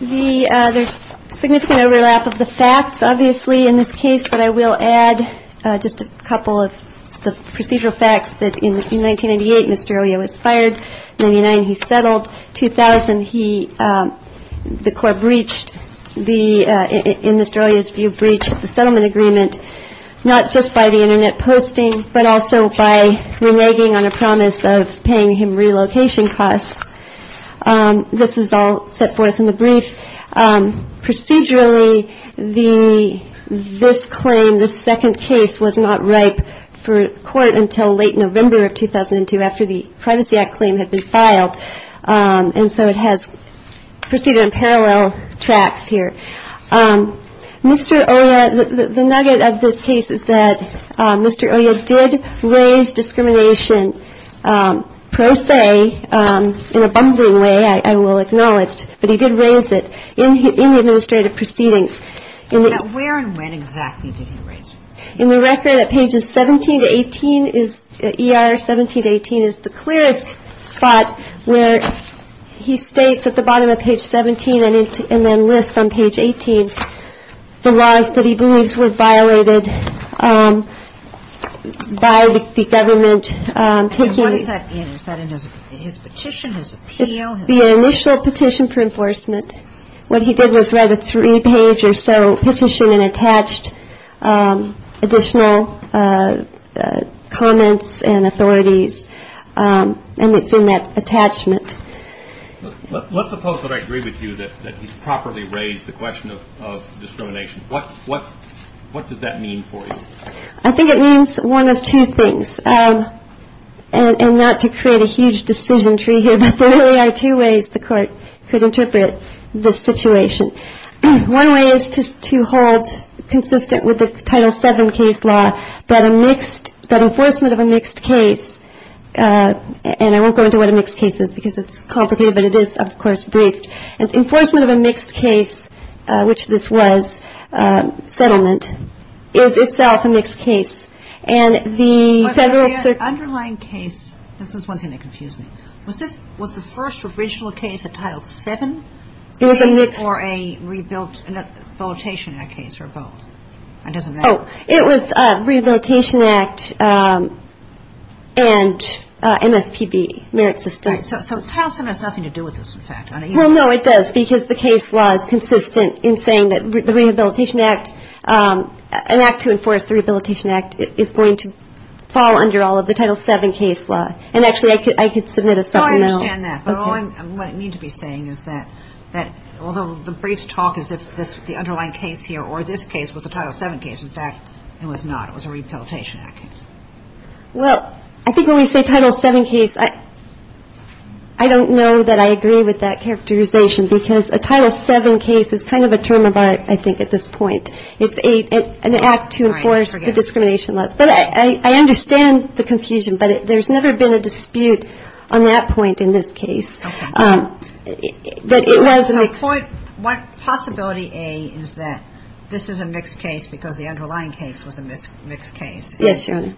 There's significant overlap of the facts, obviously, in this case, but I will add just a couple of the procedural facts. In 1998, Nestoralia was fired. In 1999, he settled. In 2000, the Corps breached, in Nestoralia's view, breached the settlement agreement, not just by the Internet posting, but also by reneging on a promise of paying him relocation costs. This is all set forth in the brief. Procedurally, this claim, this second case, was not ripe for court until late November of 2002, after the Privacy Act claim had been filed, and so it has proceeded on parallel tracks here. Mr. Oja, the nugget of this case is that Mr. Oja did raise discrimination, per se, in a bumbling way, I will acknowledge, but he did raise it in the administrative proceedings. Now, where and when exactly did he raise it? In the record at pages 17 to 18, ER 17 to 18, is the clearest spot where he states at the bottom of page 17 and then lists on page 18 the laws that he believes were violated by the government. What is that in? Is that in his petition, his appeal? The initial petition for enforcement. What he did was write a three-page or so petition and attached additional comments and authorities, and it's in that attachment. Let's suppose that I agree with you that he's properly raised the question of discrimination. What does that mean for you? I think it means one of two things, and not to create a huge decision tree here, but there really are two ways the Court could interpret the situation. One way is to hold consistent with the Title VII case law that a mixed, that enforcement of a mixed case, and I won't go into what a mixed case is because it's complicated, but it is, of course, briefed. Enforcement of a mixed case, which this was, settlement, is itself a mixed case. The underlying case, this is one thing that confused me. Was the first original case a Title VII or a Rehabilitation Act case or both? It was a Rehabilitation Act and MSPB merit system. So Title VII has nothing to do with this, in fact. Well, no, it does because the case law is consistent in saying that the Rehabilitation Act, an act to enforce the Rehabilitation Act is going to fall under all of the Title VII case law, and actually I could submit a supplemental. No, I understand that, but what I mean to be saying is that although the briefs talk as if the underlying case here or this case was a Title VII case, in fact, it was not. It was a Rehabilitation Act case. Well, I think when we say Title VII case, I don't know that I agree with that characterization because a Title VII case is kind of a term of art, I think, at this point. It's an act to enforce the discrimination laws. But I understand the confusion, but there's never been a dispute on that point in this case. Okay. But it was a mixed case. So point, possibility A is that this is a mixed case because the underlying case was a mixed case. Yes, Your Honor.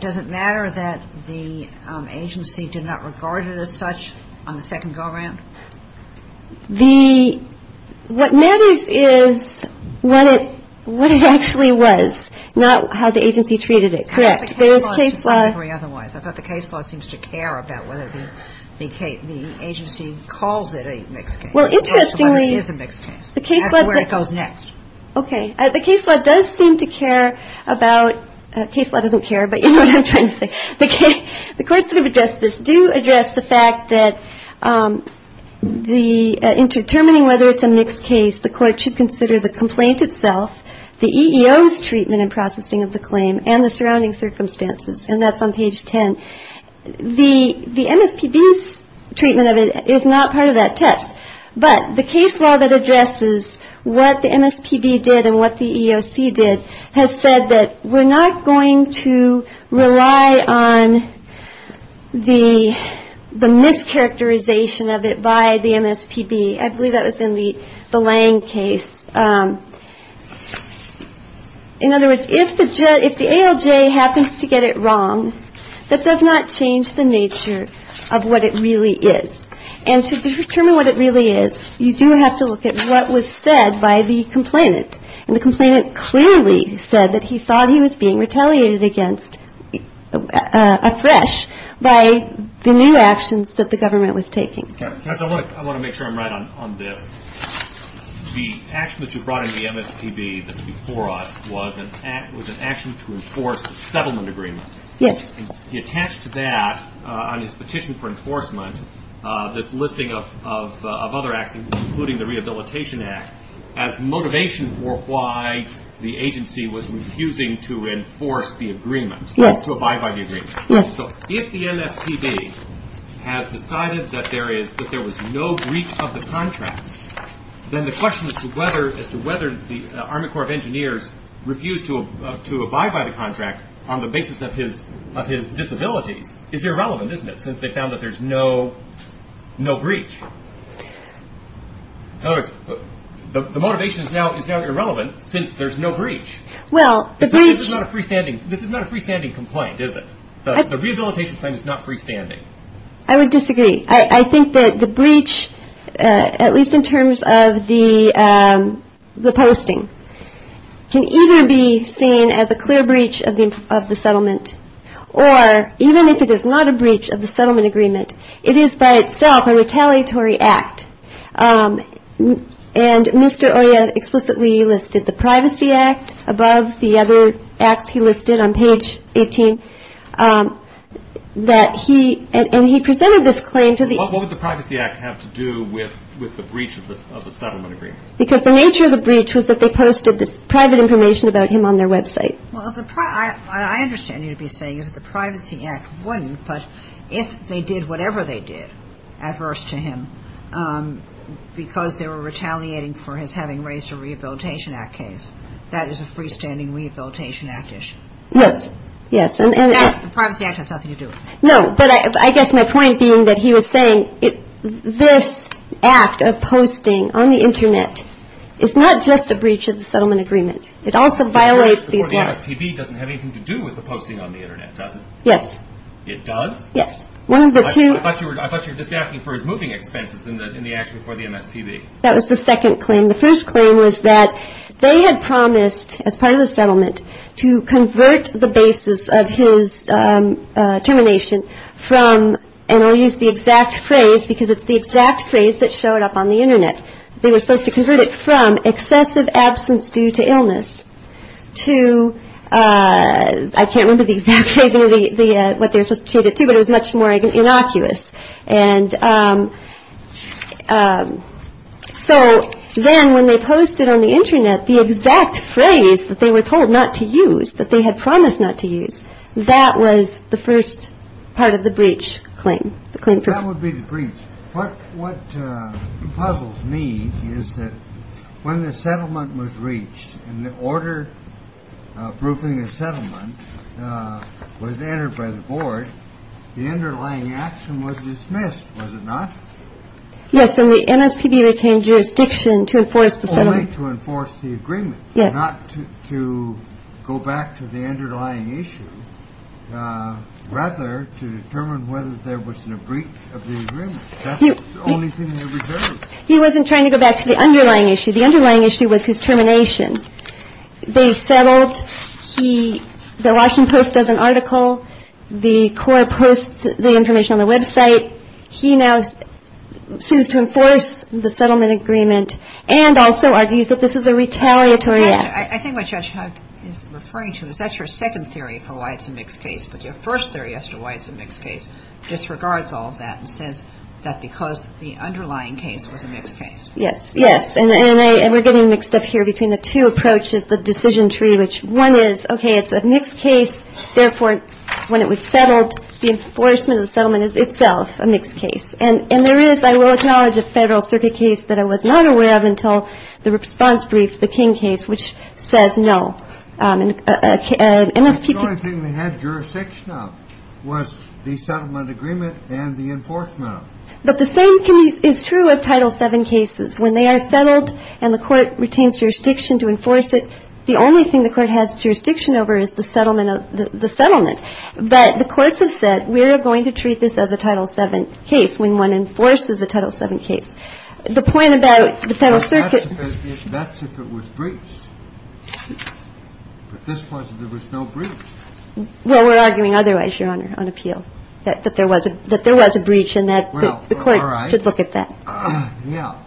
Does it matter that the agency did not regard it as such on the second go-around? The – what matters is what it actually was, not how the agency treated it. Correct. I thought the case law seemed to care about whether the agency calls it a mixed case. Well, interestingly – It is a mixed case. That's where it goes next. Okay. The case law does seem to care about – case law doesn't care, but you know what I'm trying to say. The courts that have addressed this do address the fact that the – in determining whether it's a mixed case, the court should consider the complaint itself, the EEO's treatment and processing of the claim, and the surrounding circumstances. And that's on page 10. The MSPB's treatment of it is not part of that test. But the case law that addresses what the MSPB did and what the EEOC did has said that we're not going to rely on the mischaracterization of it by the MSPB. I believe that was in the Lange case. In other words, if the ALJ happens to get it wrong, that does not change the nature of what it really is. And to determine what it really is, you do have to look at what was said by the complainant. And the complainant clearly said that he thought he was being retaliated against afresh by the new actions that the government was taking. Judge, I want to make sure I'm right on this. The action that you brought in the MSPB that was before us was an action to enforce a settlement agreement. Yes. He attached to that, on his petition for enforcement, this listing of other actions, including the Rehabilitation Act, as motivation for why the agency was refusing to enforce the agreement, to abide by the agreement. Yes. So if the MSPB has decided that there was no breach of the contract, then the question as to whether the Army Corps of Engineers refused to abide by the contract on the basis of his disabilities, is irrelevant, isn't it, since they found that there's no breach? In other words, the motivation is now irrelevant since there's no breach. Well, the breach This is not a freestanding complaint, is it? The rehabilitation claim is not freestanding. I would disagree. I think that the breach, at least in terms of the posting, can either be seen as a clear breach of the settlement, or even if it is not a breach of the settlement agreement, it is by itself a retaliatory act. And Mr. Oya explicitly listed the Privacy Act above the other acts he listed on page 18. And he presented this claim to the What would the Privacy Act have to do with the breach of the settlement agreement? Because the nature of the breach was that they posted this private information about him on their website. Well, what I understand you to be saying is that the Privacy Act wouldn't, but if they did whatever they did, adverse to him, because they were retaliating for his having raised a Rehabilitation Act case, that is a freestanding Rehabilitation Act issue. Yes. Yes. The Privacy Act has nothing to do with it. No, but I guess my point being that he was saying this act of posting on the Internet is not just a breach of the settlement agreement. It also violates these laws. The breach before the MSPB doesn't have anything to do with the posting on the Internet, does it? Yes. It does? Yes. One of the two I thought you were just asking for his moving expenses in the act before the MSPB. That was the second claim. The first claim was that they had promised, as part of the settlement, to convert the basis of his termination from, and I'll use the exact phrase because it's the exact phrase that showed up on the Internet. They were supposed to convert it from excessive absence due to illness to, I can't remember the exact phrase, what they were supposed to change it to, but it was much more innocuous. And so then when they posted on the Internet the exact phrase that they were told not to use, that they had promised not to use, that was the first part of the breach claim. That would be the breach. What puzzles me is that when the settlement was reached and the order approving the settlement was entered by the board, the underlying action was dismissed, was it not? Yes. And the MSPB retained jurisdiction to enforce the settlement. Only to enforce the agreement. Yes. Not to go back to the underlying issue, rather to determine whether there was a breach of the agreement. That's the only thing they reserved. He wasn't trying to go back to the underlying issue. The underlying issue was his termination. They settled. The Washington Post does an article. The Corps posts the information on the website. He now sues to enforce the settlement agreement and also argues that this is a retaliatory act. I think what Judge Huck is referring to is that's your second theory for why it's a mixed case, but your first theory as to why it's a mixed case disregards all of that and says that because the underlying case was a mixed case. Yes. Yes. And we're getting mixed up here between the two approaches, the decision tree, which one is, okay, it's a mixed case. Therefore, when it was settled, the enforcement of the settlement is itself a mixed case. And there is, I will acknowledge, a Federal Circuit case that I was not aware of until the response brief, the King case, which says no. The only thing they had jurisdiction of was the settlement agreement and the enforcement of it. But the same is true of Title VII cases. When they are settled and the Court retains jurisdiction to enforce it, the only thing the Court has jurisdiction over is the settlement of the settlement. But the courts have said we're going to treat this as a Title VII case when one enforces a Title VII case. The point about the Federal Circuit ---- That's if it was breached. But this was if there was no breach. Well, we're arguing otherwise, Your Honor, on appeal, that there was a breach and that the ---- Well, all right. The Court should look at that. Yeah.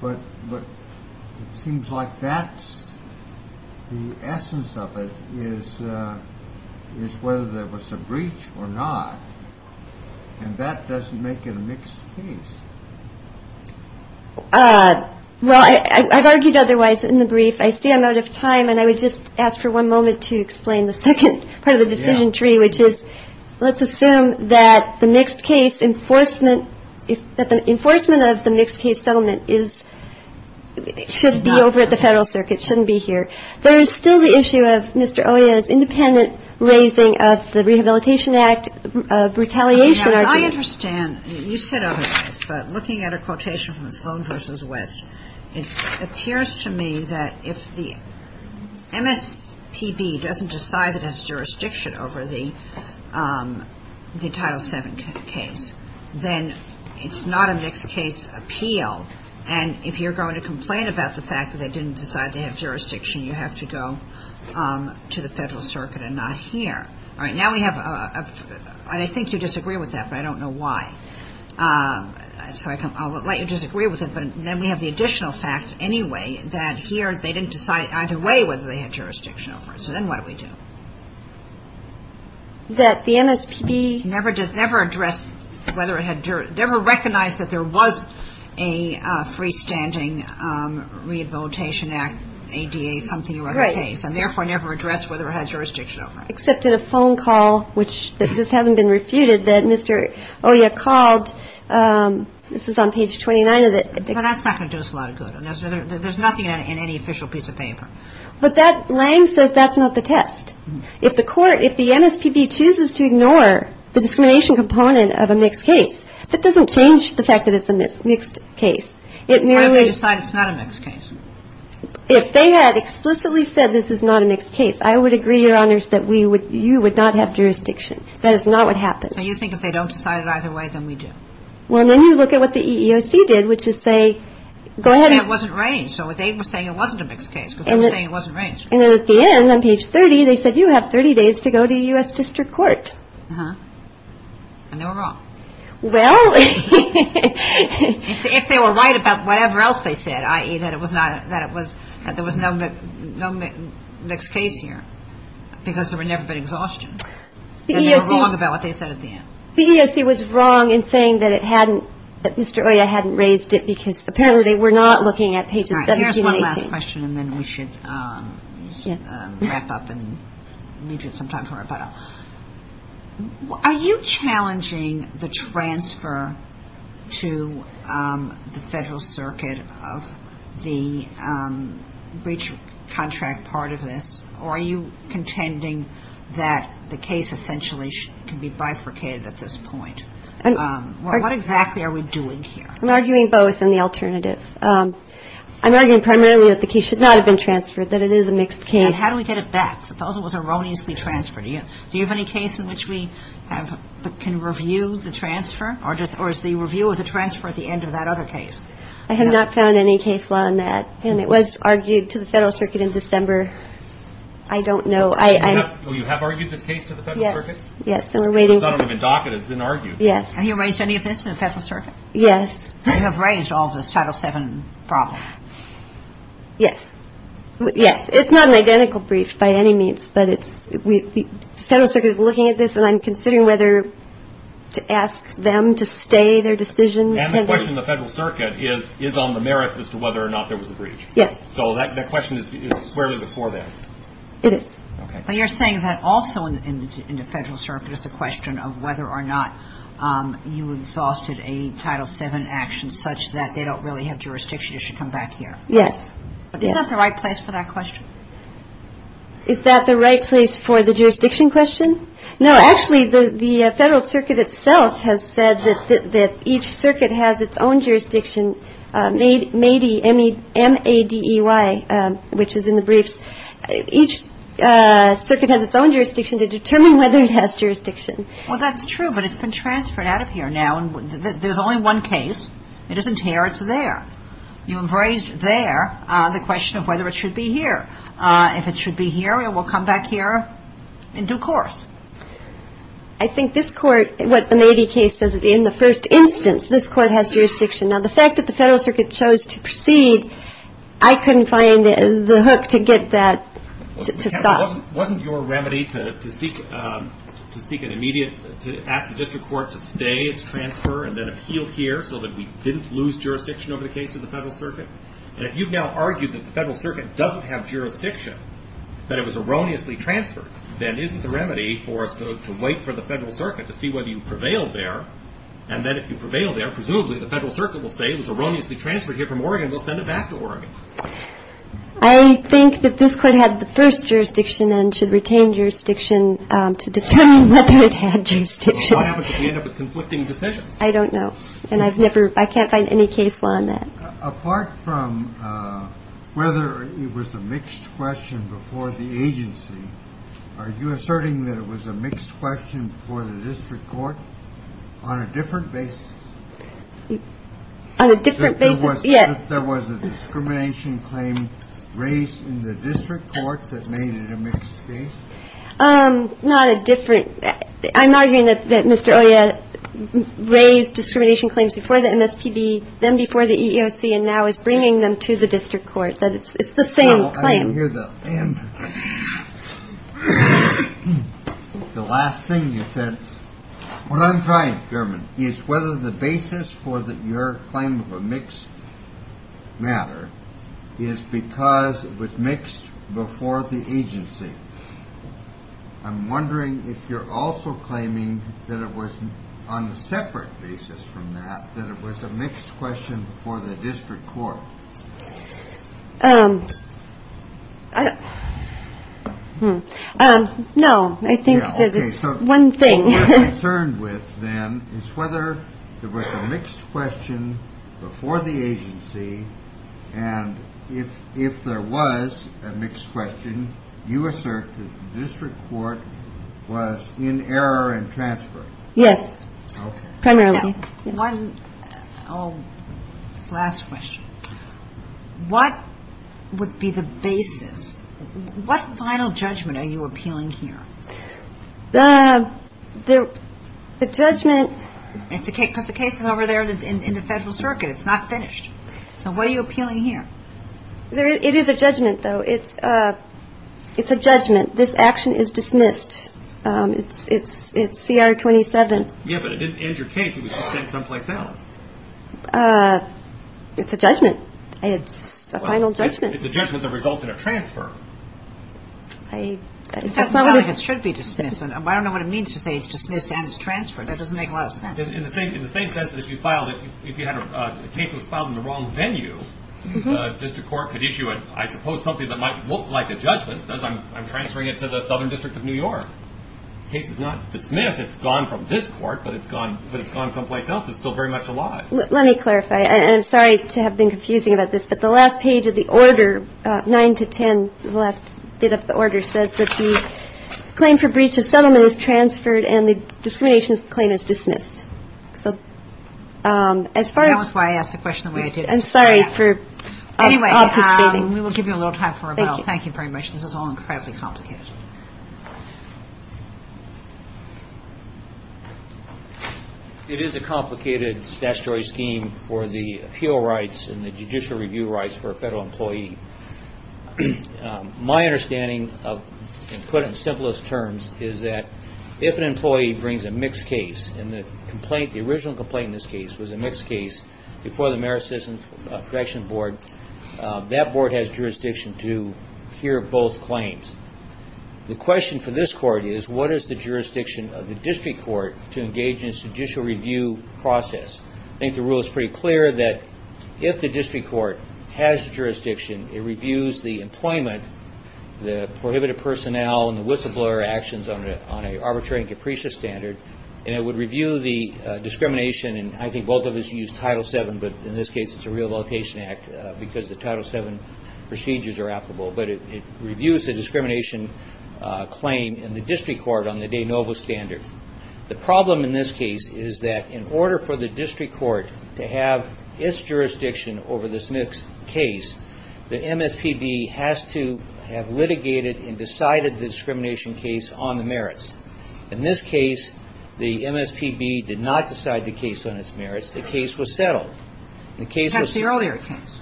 But it seems like that's the essence of it is whether there was a breach or not. And that doesn't make it a mixed case. Well, I've argued otherwise in the brief. I see I'm out of time, and I would just ask for one moment to explain the second part of the decision tree, which is let's assume that the mixed case enforcement ---- that the enforcement of the mixed case settlement is ---- should be over at the Federal Circuit, shouldn't be here. There is still the issue of Mr. Oya's independent raising of the Rehabilitation Act retaliation argument. I understand. You said otherwise. But looking at a quotation from Sloan v. West, it appears to me that if the MSPB doesn't decide that it has jurisdiction over the Title VII case, then it's not a mixed case appeal. And if you're going to complain about the fact that they didn't decide they have jurisdiction, you have to go to the Federal Circuit and not here. All right. Now we have a ---- and I think you disagree with that, but I don't know why. So I'll let you disagree with it. But then we have the additional fact anyway that here they didn't decide either way whether they had jurisdiction over it. So then what do we do? That the MSPB ---- Never addressed whether it had jurisdiction. Never recognized that there was a freestanding Rehabilitation Act ADA something or other case. Right. And therefore never addressed whether it had jurisdiction over it. Except in a phone call, which this hasn't been refuted, that Mr. Oya called. This is on page 29 of the ---- But that's not going to do us a lot of good. There's nothing in any official piece of paper. But that ---- says that's not the test. If the court, if the MSPB chooses to ignore the discrimination component of a mixed case, that doesn't change the fact that it's a mixed case. It merely ---- If they decide it's not a mixed case. If they had explicitly said this is not a mixed case, I would agree, Your Honors, that we would ---- you would not have jurisdiction. That is not what happens. So you think if they don't decide it either way, then we do? Well, then you look at what the EEOC did, which is say, go ahead and ---- It wasn't arranged. So they were saying it wasn't a mixed case because they were saying it wasn't arranged. And then at the end, on page 30, they said you have 30 days to go to U.S. District Court. Uh-huh. And they were wrong. Well ---- If they were right about whatever else they said, i.e., that it was not, that it was, that there was no mixed case here because there had never been exhaustion, then they were wrong about what they said at the end. The EEOC was wrong in saying that it hadn't, that Mr. Oya hadn't raised it because apparently they were not looking at pages 71 to 18. All right. Here's one last question, and then we should wrap up and leave you some time for rebuttal. Are you challenging the transfer to the Federal Circuit of the breach contract part of this, or are you contending that the case essentially can be bifurcated at this point? Well, what exactly are we doing here? I'm arguing both and the alternative. I'm arguing primarily that the case should not have been transferred, that it is a mixed case. And how do we get it back? Suppose it was erroneously transferred. Do you have any case in which we have, can review the transfer, or is the review of the transfer at the end of that other case? I have not found any case law on that. And it was argued to the Federal Circuit in December. I don't know. Oh, you have argued this case to the Federal Circuit? Yes. Yes, and we're waiting ---- Because I don't have a docket. It's been argued. Yes. Have you raised any of this in the Federal Circuit? Yes. You have raised all of this Title VII problem? Yes. Yes. It's not an identical brief by any means, but the Federal Circuit is looking at this, and I'm considering whether to ask them to stay their decision. And the question of the Federal Circuit is on the merits as to whether or not there was a breach. Yes. So that question is squarely before that. It is. Okay. But you're saying that also in the Federal Circuit is the question of whether or not you exhausted a Title VII action such that they don't really have jurisdiction, you should come back here. Yes. Is that the right place for that question? Is that the right place for the jurisdiction question? No. Actually, the Federal Circuit itself has said that each circuit has its own jurisdiction, MADEY, M-A-D-E-Y, which is in the briefs. Each circuit has its own jurisdiction to determine whether it has jurisdiction. Well, that's true, but it's been transferred out of here now, and there's only one case. It isn't here. It's there. You have raised there the question of whether it should be here. If it should be here, it will come back here in due course. I think this Court, what the MADEY case says, in the first instance, this Court has jurisdiction. Now, the fact that the Federal Circuit chose to proceed, I couldn't find the hook to get that to stop. Wasn't your remedy to seek an immediate, to ask the district court to stay its transfer and then appeal here so that we didn't lose jurisdiction over the case to the Federal Circuit? And if you've now argued that the Federal Circuit doesn't have jurisdiction, that it was erroneously transferred, then isn't the remedy for us to wait for the Federal Circuit to see whether you prevail there, and then if you prevail there, presumably the Federal Circuit will say it was erroneously transferred here from Oregon. We'll send it back to Oregon. I think that this Court had the first jurisdiction and should retain jurisdiction to determine whether it had jurisdiction. Well, what happens if we end up with conflicting decisions? I don't know, and I've never – I can't find any case law on that. Apart from whether it was a mixed question before the agency, are you asserting that it was a mixed question before the district court on a different basis? On a different basis, yes. If there was a discrimination claim raised in the district court that made it a mixed case? Not a different – I'm arguing that Mr. Oya raised discrimination claims before the MSPB, then before the EEOC, and now is bringing them to the district court, that it's the same claim. Well, I don't hear the answer. The last thing you said. What I'm trying, Chairman, is whether the basis for your claim of a mixed matter is because it was mixed before the agency. I'm wondering if you're also claiming that it was on a separate basis from that, that it was a mixed question before the district court. No, I think that it's one thing. Okay, so what we're concerned with, then, is whether there was a mixed question before the agency, and if there was a mixed question, you assert that the district court was in error in transfer. Yes, primarily. One last question. What would be the basis? What final judgment are you appealing here? The judgment – Because the case is over there in the Federal Circuit. It's not finished. So what are you appealing here? It is a judgment, though. It's a judgment. This action is dismissed. It's CR 27. Yes, but it didn't end your case. It was just sent someplace else. It's a judgment. It's a final judgment. It's a judgment that results in a transfer. It's not like it should be dismissed. I don't know what it means to say it's dismissed and it's transferred. That doesn't make a lot of sense. In the same sense that if you filed it, if the case was filed in the wrong venue, the district court could issue it, I suppose, something that might look like a judgment, says I'm transferring it to the Southern District of New York. The case is not dismissed. I guess it's gone from this court, but it's gone someplace else. It's still very much alive. Let me clarify, and I'm sorry to have been confusing about this, but the last page of the order, 9 to 10, the last bit of the order, says that the claim for breach of settlement is transferred and the discrimination claim is dismissed. So as far as – That was why I asked the question the way I did. I'm sorry for – Anyway, we will give you a little time for rebuttal. Thank you. Thank you very much. This is all incredibly complicated. It is a complicated statutory scheme for the appeal rights and the judicial review rights for a federal employee. My understanding, put in simplest terms, is that if an employee brings a mixed case, and the complaint, the original complaint in this case, was a mixed case before the Merit Citizen Protection Board, that board has jurisdiction to hear both claims. The question for this court is, what is the jurisdiction of the district court to engage in a judicial review process? I think the rule is pretty clear that if the district court has jurisdiction, it reviews the employment, the prohibited personnel, and the whistleblower actions on an arbitrary and capricious standard, and it would review the discrimination, and I think both of us used Title VII, but in this case it's a Rehabilitation Act because the Title VII procedures are applicable, but it reviews the discrimination claim in the district court on the de novo standard. The problem in this case is that in order for the district court to have its jurisdiction over this mixed case, the MSPB has to have litigated and decided the discrimination case on the merits. In this case, the MSPB did not decide the case on its merits. The case was settled. Perhaps the earlier case.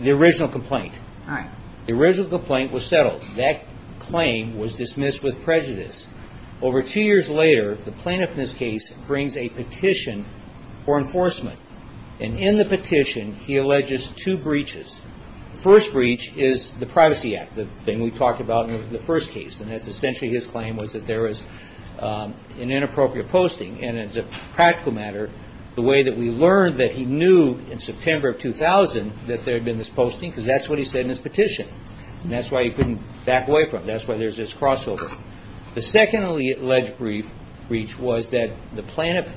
The original complaint. All right. The original complaint was settled. That claim was dismissed with prejudice. Over two years later, the plaintiff in this case brings a petition for enforcement, and in the petition he alleges two breaches. The first breach is the Privacy Act, the thing we talked about in the first case, and that's essentially his claim was that there was an inappropriate posting, and as a practical matter, the way that we learned that he knew in September of 2000 that there had been this posting because that's what he said in his petition, and that's why he couldn't back away from it. That's why there's this crossover. The second alleged breach was that the plaintiff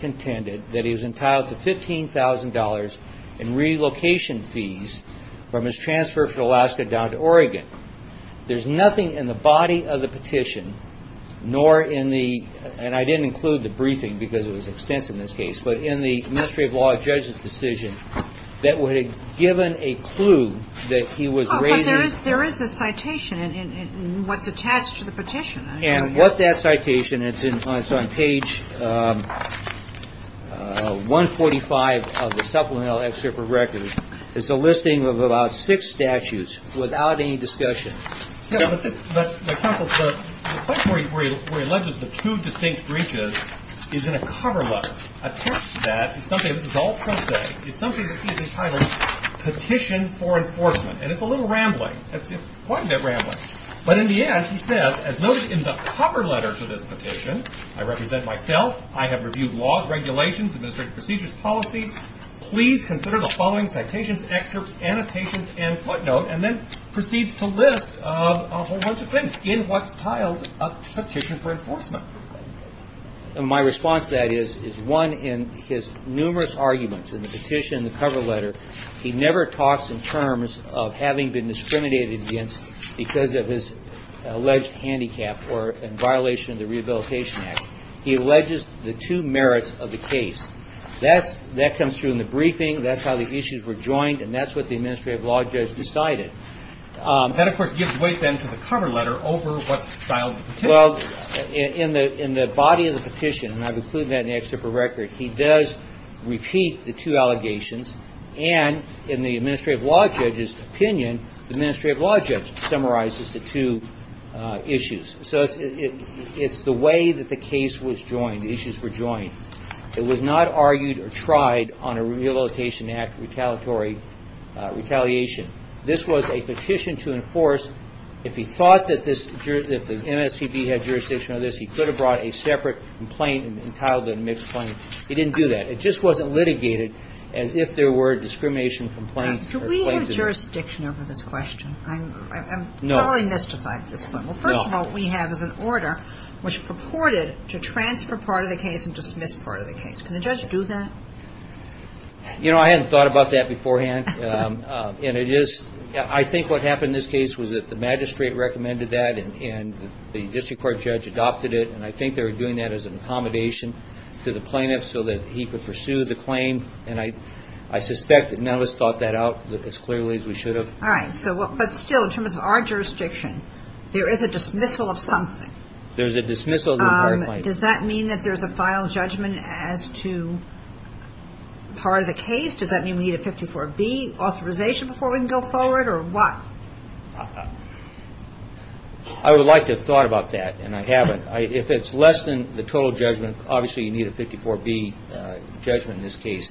contended that he was entitled to $15,000 in relocation fees from his transfer from Alaska down to Oregon. The third alleged breach was that the plaintiff was entitled to $15,000 in relocation fees from his transfer from Alaska down to Oregon. Now, there's nothing in the body of the petition, nor in the, and I didn't include the briefing because it was extensive in this case, but in the Ministry of Law judge's decision that would have given a clue that he was raising. But there is a citation in what's attached to the petition. And what that citation is, it's on page 145 of the supplemental excerpt of record. It's a listing of about six statutes without any discussion. Yeah, but the point where he alleges the two distinct breaches is in a cover letter, a text that, this is all present, is something that he's entitled Petition for Enforcement, and it's a little rambling. It's quite a bit rambling. But in the end, he says, as noted in the cover letter to this petition, I represent myself. I have reviewed laws, regulations, administrative procedures, policies. Please consider the following citations, excerpts, annotations, and footnote, and then proceeds to list a whole bunch of things in what's tiled Petition for Enforcement. And my response to that is, is one in his numerous arguments in the petition, the cover letter, he never talks in terms of having been discriminated against because of his alleged handicap or in violation of the Rehabilitation Act. He alleges the two merits of the case. That comes through in the briefing. That's how the issues were joined, and that's what the administrative law judge decided. That, of course, gives way then to the cover letter over what's tiled in the petition. Well, in the body of the petition, and I've included that in the excerpt of record, he does repeat the two allegations, and in the administrative law judge's opinion, the administrative law judge summarizes the two issues. So it's the way that the case was joined, the issues were joined. It was not argued or tried on a Rehabilitation Act retaliatory retaliation. This was a petition to enforce. If he thought that this MSPB had jurisdiction over this, he could have brought a separate complaint and tiled it in a mixed claim. He didn't do that. It just wasn't litigated as if there were discrimination complaints. Do we have jurisdiction over this question? I'm totally mystified at this point. Well, first of all, what we have is an order which purported to transfer part of the case and dismiss part of the case. Can the judge do that? You know, I hadn't thought about that beforehand, and it is – I think what happened in this case was that the magistrate recommended that, and the district court judge adopted it, and I think they were doing that as an accommodation to the plaintiff so that he could pursue the claim. And I suspect that none of us thought that out as clearly as we should have. All right. But still, in terms of our jurisdiction, there is a dismissal of something. There's a dismissal of the entire claim. Does that mean that there's a final judgment as to part of the case? Does that mean we need a 54B authorization before we can go forward, or what? I would like to have thought about that, and I haven't. If it's less than the total judgment, obviously you need a 54B judgment in this case.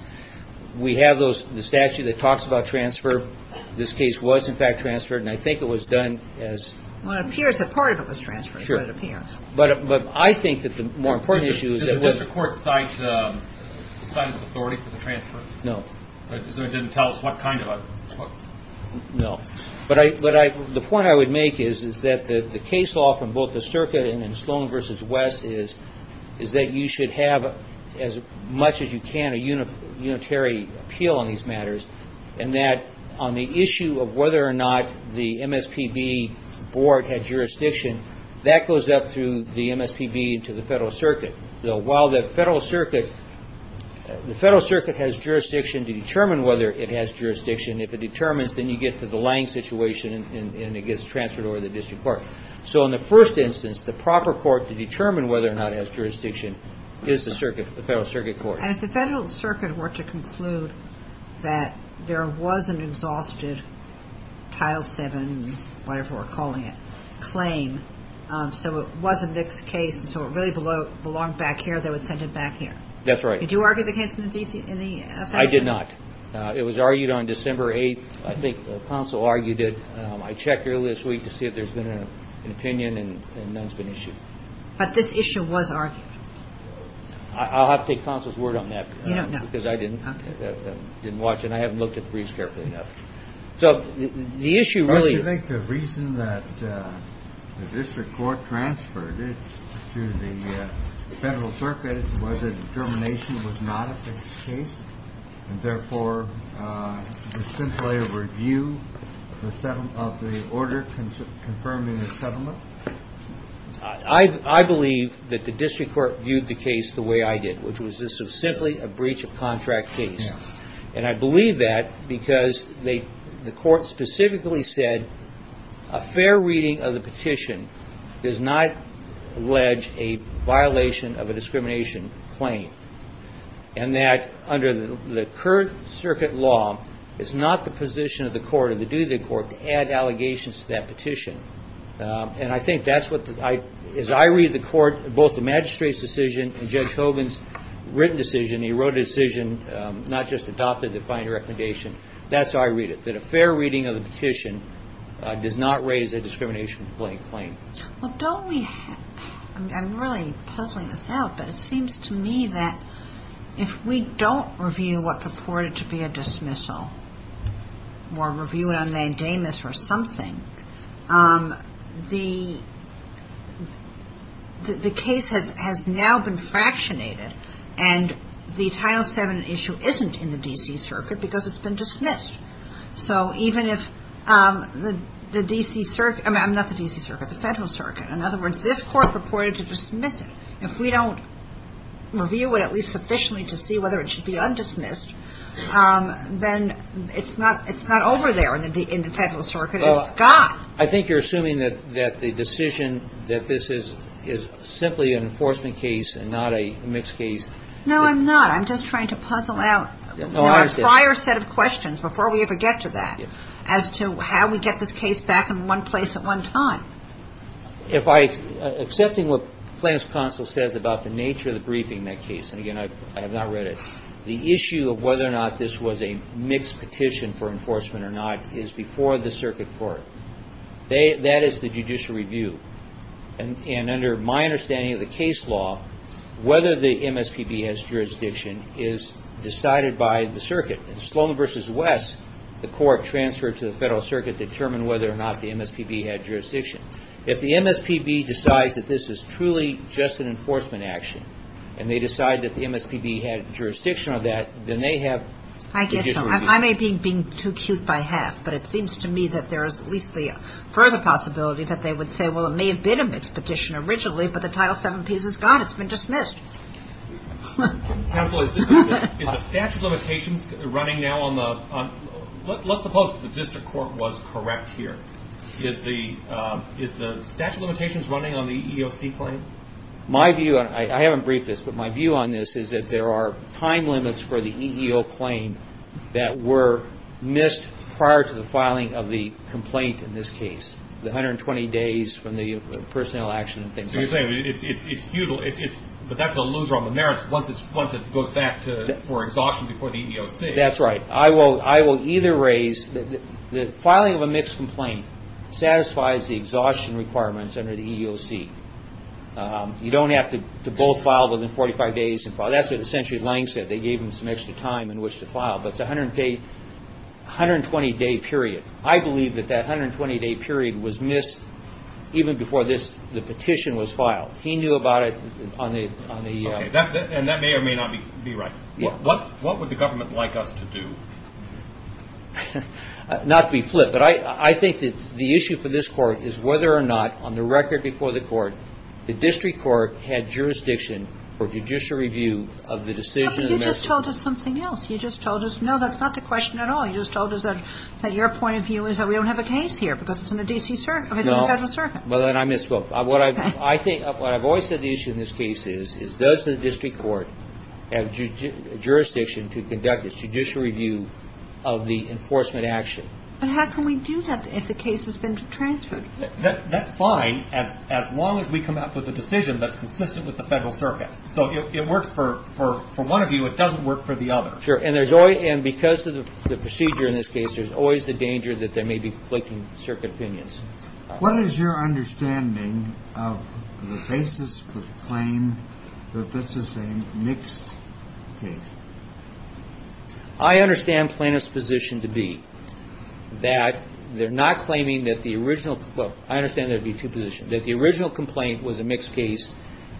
We have the statute that talks about transfer. This case was, in fact, transferred, and I think it was done as – Well, it appears that part of it was transferred. Sure. But I think that the more important issue is that – Did the district court cite its authority for the transfer? No. So it didn't tell us what kind of a – No. But the point I would make is that the case law from both the Circa and Sloan v. West is that you should have, as much as you can, a unitary appeal on these matters, and that on the issue of whether or not the MSPB board had jurisdiction, that goes up through the MSPB to the federal circuit. While the federal circuit has jurisdiction to determine whether it has jurisdiction, if it determines, then you get to the Lange situation and it gets transferred over to the district court. So in the first instance, the proper court to determine whether or not it has jurisdiction is the circuit, the federal circuit court. And if the federal circuit were to conclude that there was an exhausted Title VII and whatever we're calling it claim, so it was a mixed case and so it really belonged back here, they would send it back here. That's right. Did you argue the case in the – I did not. It was argued on December 8th. I think the council argued it. I checked earlier this week to see if there's been an opinion and none has been issued. But this issue was argued. I'll have to take counsel's word on that. You don't know. Because I didn't watch it. I haven't looked at the briefs carefully enough. So the issue really – Don't you think the reason that the district court transferred it to the federal circuit was a determination it was not a fixed case and therefore simply a review of the order confirming the settlement? I believe that the district court viewed the case the way I did, which was this was simply a breach of contract case. And I believe that because the court specifically said a fair reading of the petition does not allege a violation of a discrimination claim and that under the current circuit law, it's not the position of the court or the duty of the court to add allegations to that petition. And I think that's what – as I read the court, both the magistrate's decision and Judge Hogan's written decision, he wrote a decision, not just adopted the final recommendation. That's how I read it, that a fair reading of the petition does not raise a discrimination claim. Well, don't we – I'm really puzzling this out, but it seems to me that if we don't review what purported to be a dismissal or review it on nondamus or something, the case has now been fractionated and the Title VII issue isn't in the D.C. Circuit because it's been dismissed. So even if the D.C. – I mean, not the D.C. Circuit, the federal circuit. In other words, this court purported to dismiss it. If we don't review it at least sufficiently to see whether it should be undismissed, then it's not over there in the federal circuit. It's gone. I think you're assuming that the decision that this is simply an enforcement case and not a mixed case. No, I'm not. I'm just trying to puzzle out a prior set of questions before we ever get to that as to how we get this case back in one place at one time. Accepting what Plans Council says about the nature of the briefing in that case, and again, I have not read it, the issue of whether or not this was a mixed petition for enforcement or not is before the circuit court. That is the judicial review. And under my understanding of the case law, whether the MSPB has jurisdiction is decided by the circuit. In Sloan v. West, the court transferred to the federal circuit to determine whether or not the MSPB had jurisdiction. If the MSPB decides that this is truly just an enforcement action and they decide that the MSPB had jurisdiction on that, then they have the judicial review. I may be being too cute by half, but it seems to me that there is at least the further possibility that they would say, well, it may have been a mixed petition originally, but the Title VII piece is gone. It's been dismissed. Counsel, is the statute of limitations running now on the – Let's suppose the district court was correct here. Is the statute of limitations running on the EEOC claim? I haven't briefed this, but my view on this is that there are time limits for the EEO claim that were missed prior to the filing of the complaint in this case, the 120 days from the personnel action and things like that. So you're saying it's futile, but that's a loser on the merits once it goes back for exhaustion before the EEOC. That's right. I will either raise the filing of a mixed complaint satisfies the exhaustion requirements under the EEOC. You don't have to both file within 45 days. That's what essentially Lange said. They gave him some extra time in which to file, but it's a 120-day period. I believe that that 120-day period was missed even before the petition was filed. He knew about it on the – Okay, and that may or may not be right. What would the government like us to do? Not to be flipped, but I think that the issue for this Court is whether or not, on the record before the Court, the district court had jurisdiction for judicial review of the decision of the merits. But you just told us something else. You just told us, no, that's not the question at all. You just told us that your point of view is that we don't have a case here because it's in the D.C. – No. Well, then I misspoke. What I've always said the issue in this case is, does the district court have jurisdiction to conduct a judicial review of the enforcement action? But how can we do that if the case has been transferred? That's fine as long as we come up with a decision that's consistent with the federal circuit. So it works for one of you. It doesn't work for the other. Sure, and because of the procedure in this case, there's always the danger that they may be flicking circuit opinions. What is your understanding of the basis for the claim that this is a mixed case? I understand plaintiff's position to be that they're not claiming that the original – well, I understand there would be two positions – that the original complaint was a mixed case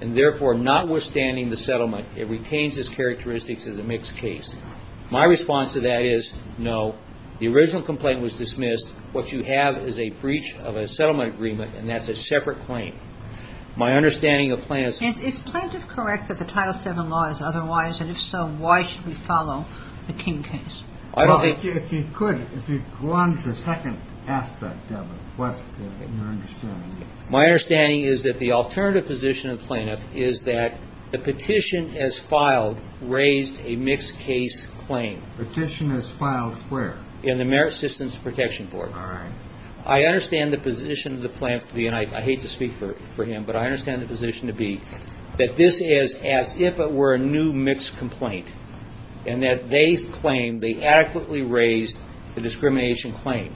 and, therefore, notwithstanding the settlement, it retains its characteristics as a mixed case. My response to that is, no, the original complaint was dismissed. What you have is a breach of a settlement agreement, and that's a separate claim. My understanding of plaintiff's – Is plaintiff correct that the Title VII law is otherwise? And if so, why should we follow the King case? Well, if you could, if you could go on to the second aspect of it, what's your understanding of this? My understanding is that the alternative position of the plaintiff is that the petition as filed raised a mixed case claim. Petition as filed where? In the Merit Systems Protection Board. All right. I understand the position of the plaintiff, and I hate to speak for him, but I understand the position to be that this is as if it were a new mixed complaint and that they claim they adequately raised the discrimination claim.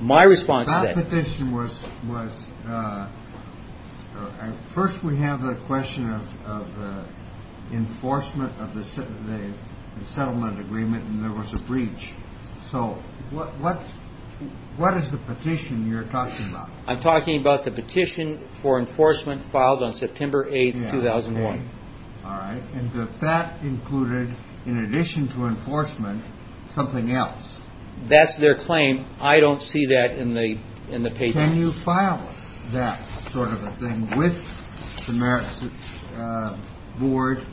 My response to that – That petition was – first, we have the question of enforcement of the settlement agreement, and there was a breach, so what is the petition you're talking about? I'm talking about the petition for enforcement filed on September 8, 2001. All right. And that included, in addition to enforcement, something else. That's their claim. I don't see that in the paper. Can you file that sort of a thing with the Merit Systems Board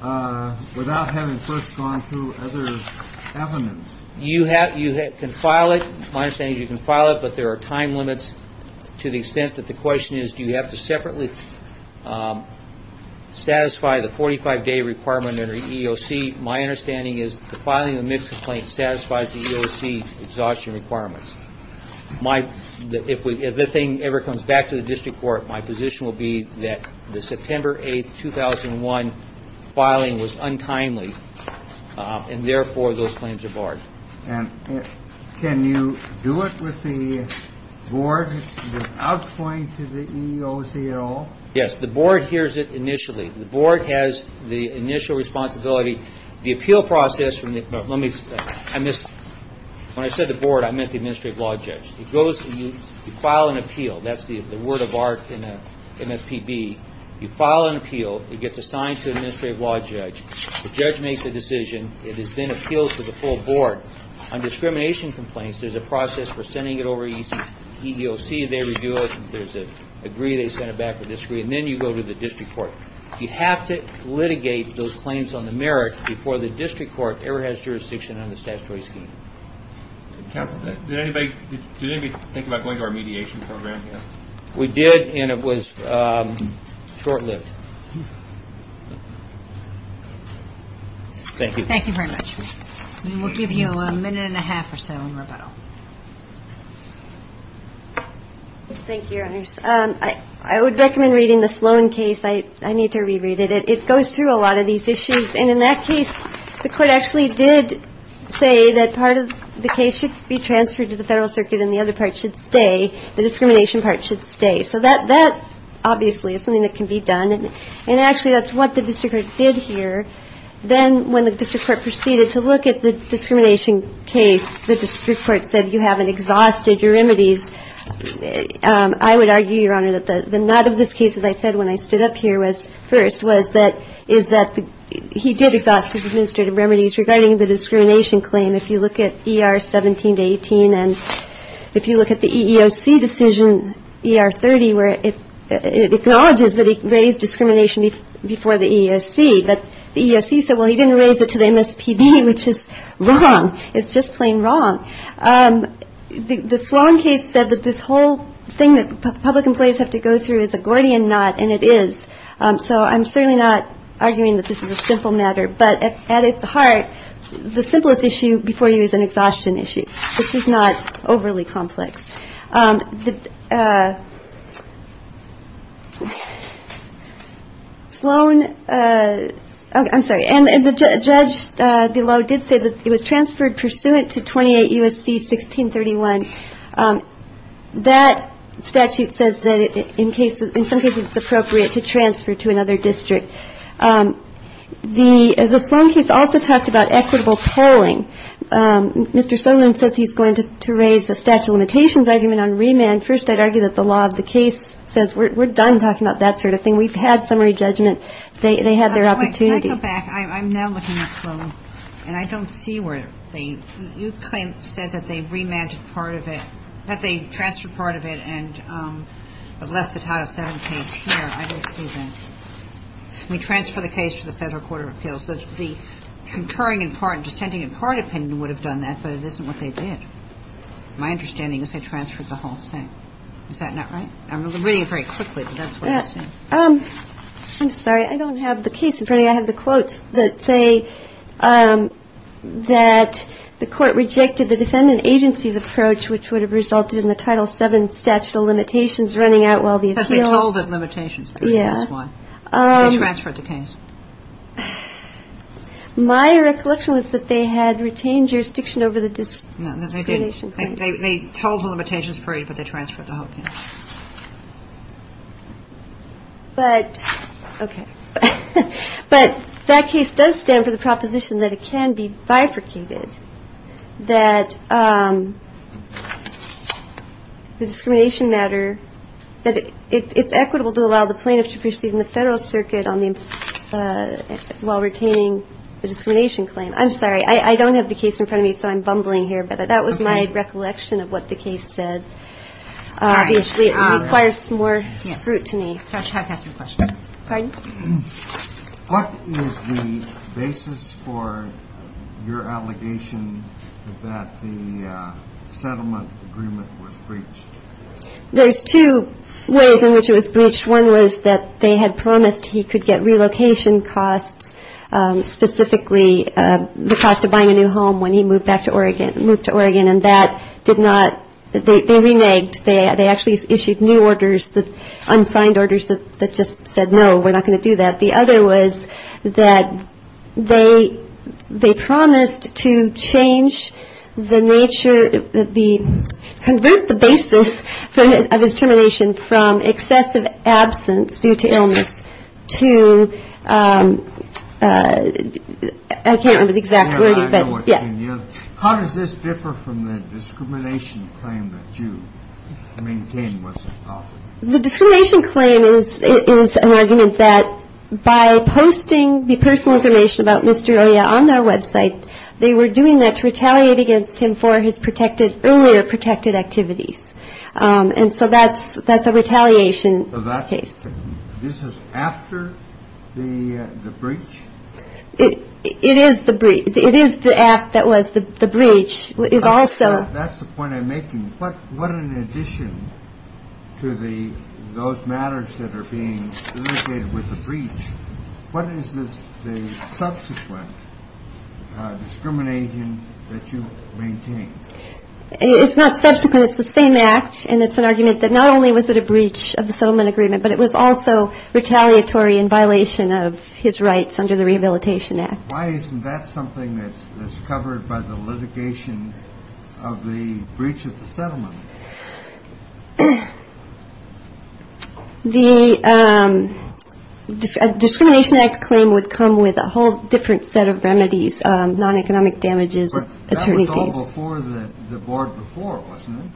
without having first gone through other evidence? You can file it. My understanding is you can file it, but there are time limits to the extent that the question is, do you have to separately satisfy the 45-day requirement under EEOC? My understanding is that filing a mixed complaint satisfies the EEOC exhaustion requirements. If the thing ever comes back to the district court, my position will be that the September 8, 2001 filing was untimely, and therefore those claims are barred. And can you do it with the board without going to the EEOC at all? Yes. The board hears it initially. The board has the initial responsibility. The appeal process from the – let me – I missed – when I said the board, I meant the administrative law judge. It goes – you file an appeal. That's the word of art in the MSPB. You file an appeal. It gets assigned to an administrative law judge. The judge makes a decision. It is then appealed to the full board. On discrimination complaints, there's a process for sending it over to EEOC. They review it. If there's an agree, they send it back for a disagree. And then you go to the district court. You have to litigate those claims on the merit before the district court ever has jurisdiction on the statutory scheme. Counsel, did anybody think about going to our mediation program? We did, and it was short-lived. Thank you. Thank you very much. We'll give you a minute and a half or so in rebuttal. Thank you, Ernest. I would recommend reading the Sloan case. I need to reread it. It goes through a lot of these issues. And in that case, the court actually did say that part of the case should be transferred to the federal circuit and the other part should stay. The discrimination part should stay. So that obviously is something that can be done. And actually, that's what the district court did here. Then when the district court proceeded to look at the discrimination case, the district court said you haven't exhausted your remedies. I would argue, Your Honor, that the nut of this case, as I said when I stood up here first, was that he did exhaust his administrative remedies regarding the discrimination claim. If you look at ER 17 to 18 and if you look at the EEOC decision, ER 30, where it acknowledges that he raised discrimination before the EEOC, but the EEOC said, well, he didn't raise it to the MSPD, which is wrong. It's just plain wrong. The Sloan case said that this whole thing that public employees have to go through is a Gordian knot, and it is. So I'm certainly not arguing that this is a simple matter. But at its heart, the simplest issue before you is an exhaustion issue, which is not overly complex. The Sloan – I'm sorry. And the judge below did say that it was transferred pursuant to 28 U.S.C. 1631. That statute says that in some cases it's appropriate to transfer to another district. The Sloan case also talked about equitable polling. Mr. Solon says he's going to raise a statute of limitations argument on remand. First, I'd argue that the law of the case says we're done talking about that sort of thing. We've had summary judgment. They had their opportunity. Wait. Can I go back? I'm now looking at Sloan, and I don't see where they – you claim – said that they remanded part of it, that they transferred part of it and left the Title VII case here. I don't see that. We transfer the case to the Federal Court of Appeals. The concurring in part – dissenting in part opinion would have done that, but it isn't what they did. My understanding is they transferred the whole thing. Is that not right? I'm reading it very quickly, but that's what I'm seeing. I'm sorry. I don't have the case in front of me. I have the quotes that say that the court rejected the defendant agency's approach, which would have resulted in the Title VII statute of limitations running out while the appeal – Because they told the limitations. Yeah. They transferred the case. My recollection was that they had retained jurisdiction over the discrimination claim. No, they didn't. They told the limitations free, but they transferred the whole thing. But – okay. But that case does stand for the proposition that it can be bifurcated, that the discrimination matter – It's equitable to allow the plaintiff to proceed in the Federal Circuit while retaining the discrimination claim. I'm sorry. I don't have the case in front of me, so I'm bumbling here. But that was my recollection of what the case said. Obviously, it requires more scrutiny. Judge, I have a question. Pardon? What is the basis for your allegation that the settlement agreement was breached? There's two ways in which it was breached. One was that they had promised he could get relocation costs, specifically the cost of buying a new home when he moved back to Oregon – moved to Oregon. And that did not – they reneged. They actually issued new orders, unsigned orders that just said, no, we're not going to do that. The other was that they promised to change the nature of the – convert the basis of his termination from excessive absence due to illness to – I can't remember the exact wording, but – Yeah, I know what you mean. How does this differ from the discrimination claim that you maintain was adopted? The discrimination claim is an argument that by posting the personal information about Mr. Oya on their website, they were doing that to retaliate against him for his protected – earlier protected activities. And so that's a retaliation case. So that's – this is after the breach? It is the – it is the act that was – the breach is also – That's the point I'm making. What in addition to the – those matters that are being litigated with the breach, what is the subsequent discrimination that you maintain? It's not subsequent. It's the same act. And it's an argument that not only was it a breach of the settlement agreement, but it was also retaliatory in violation of his rights under the Rehabilitation Act. Why isn't that something that's covered by the litigation of the breach of the settlement? The Discrimination Act claim would come with a whole different set of remedies, non-economic damages, attorney fees. But that was all before the board before, wasn't it?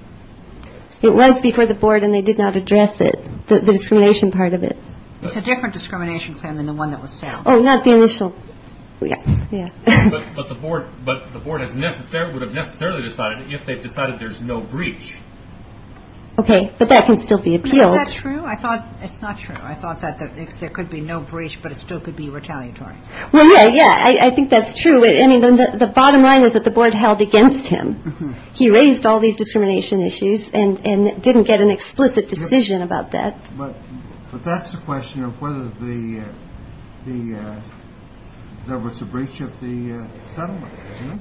It was before the board, and they did not address it, the discrimination part of it. It's a different discrimination claim than the one that was settled. Oh, not the initial – yeah. But the board would have necessarily decided if they decided there's no breach. Okay, but that can still be appealed. Is that true? I thought – it's not true. I thought that there could be no breach, but it still could be retaliatory. Well, yeah, yeah. I think that's true. I mean, the bottom line is that the board held against him. He raised all these discrimination issues and didn't get an explicit decision about that. But that's the question of whether there was a breach of the settlement.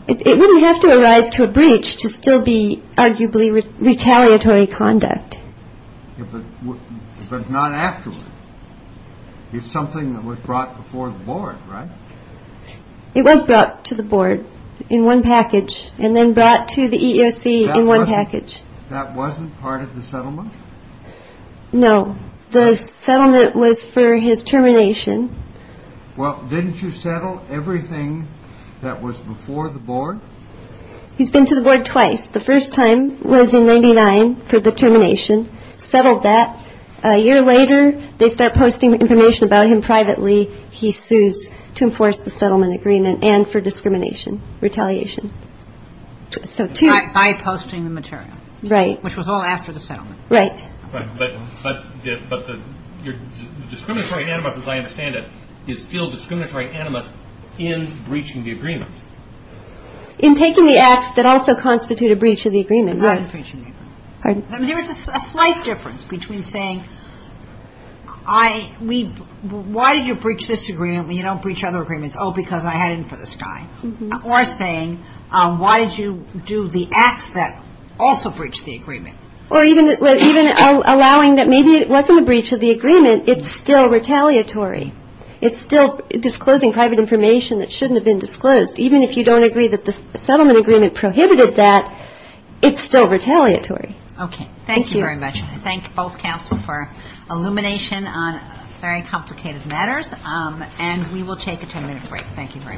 It wouldn't have to arise to a breach to still be arguably retaliatory conduct. But not afterwards. It's something that was brought before the board, right? It was brought to the board in one package and then brought to the EEOC in one package. That wasn't part of the settlement? No. The settlement was for his termination. Well, didn't you settle everything that was before the board? He's been to the board twice. The first time was in 1999 for the termination. Settled that. A year later, they start posting information about him privately. He sues to enforce the settlement agreement and for discrimination, retaliation. By posting the material. Right. Which was all after the settlement. Right. But the discriminatory animus, as I understand it, is still discriminatory animus in breaching the agreement. In taking the acts that also constitute a breach of the agreement. Not in breaching the agreement. Pardon? There was a slight difference between saying, why did you breach this agreement when you don't breach other agreements? Oh, because I had it in for this guy. Or saying, why did you do the acts that also breached the agreement? Or even allowing that maybe it wasn't a breach of the agreement, it's still retaliatory. It's still disclosing private information that shouldn't have been disclosed. Even if you don't agree that the settlement agreement prohibited that, it's still retaliatory. Okay. Thank you. Thank you very much. And I thank both counsel for illumination on very complicated matters. And we will take a ten-minute break. Thank you very much. All rise.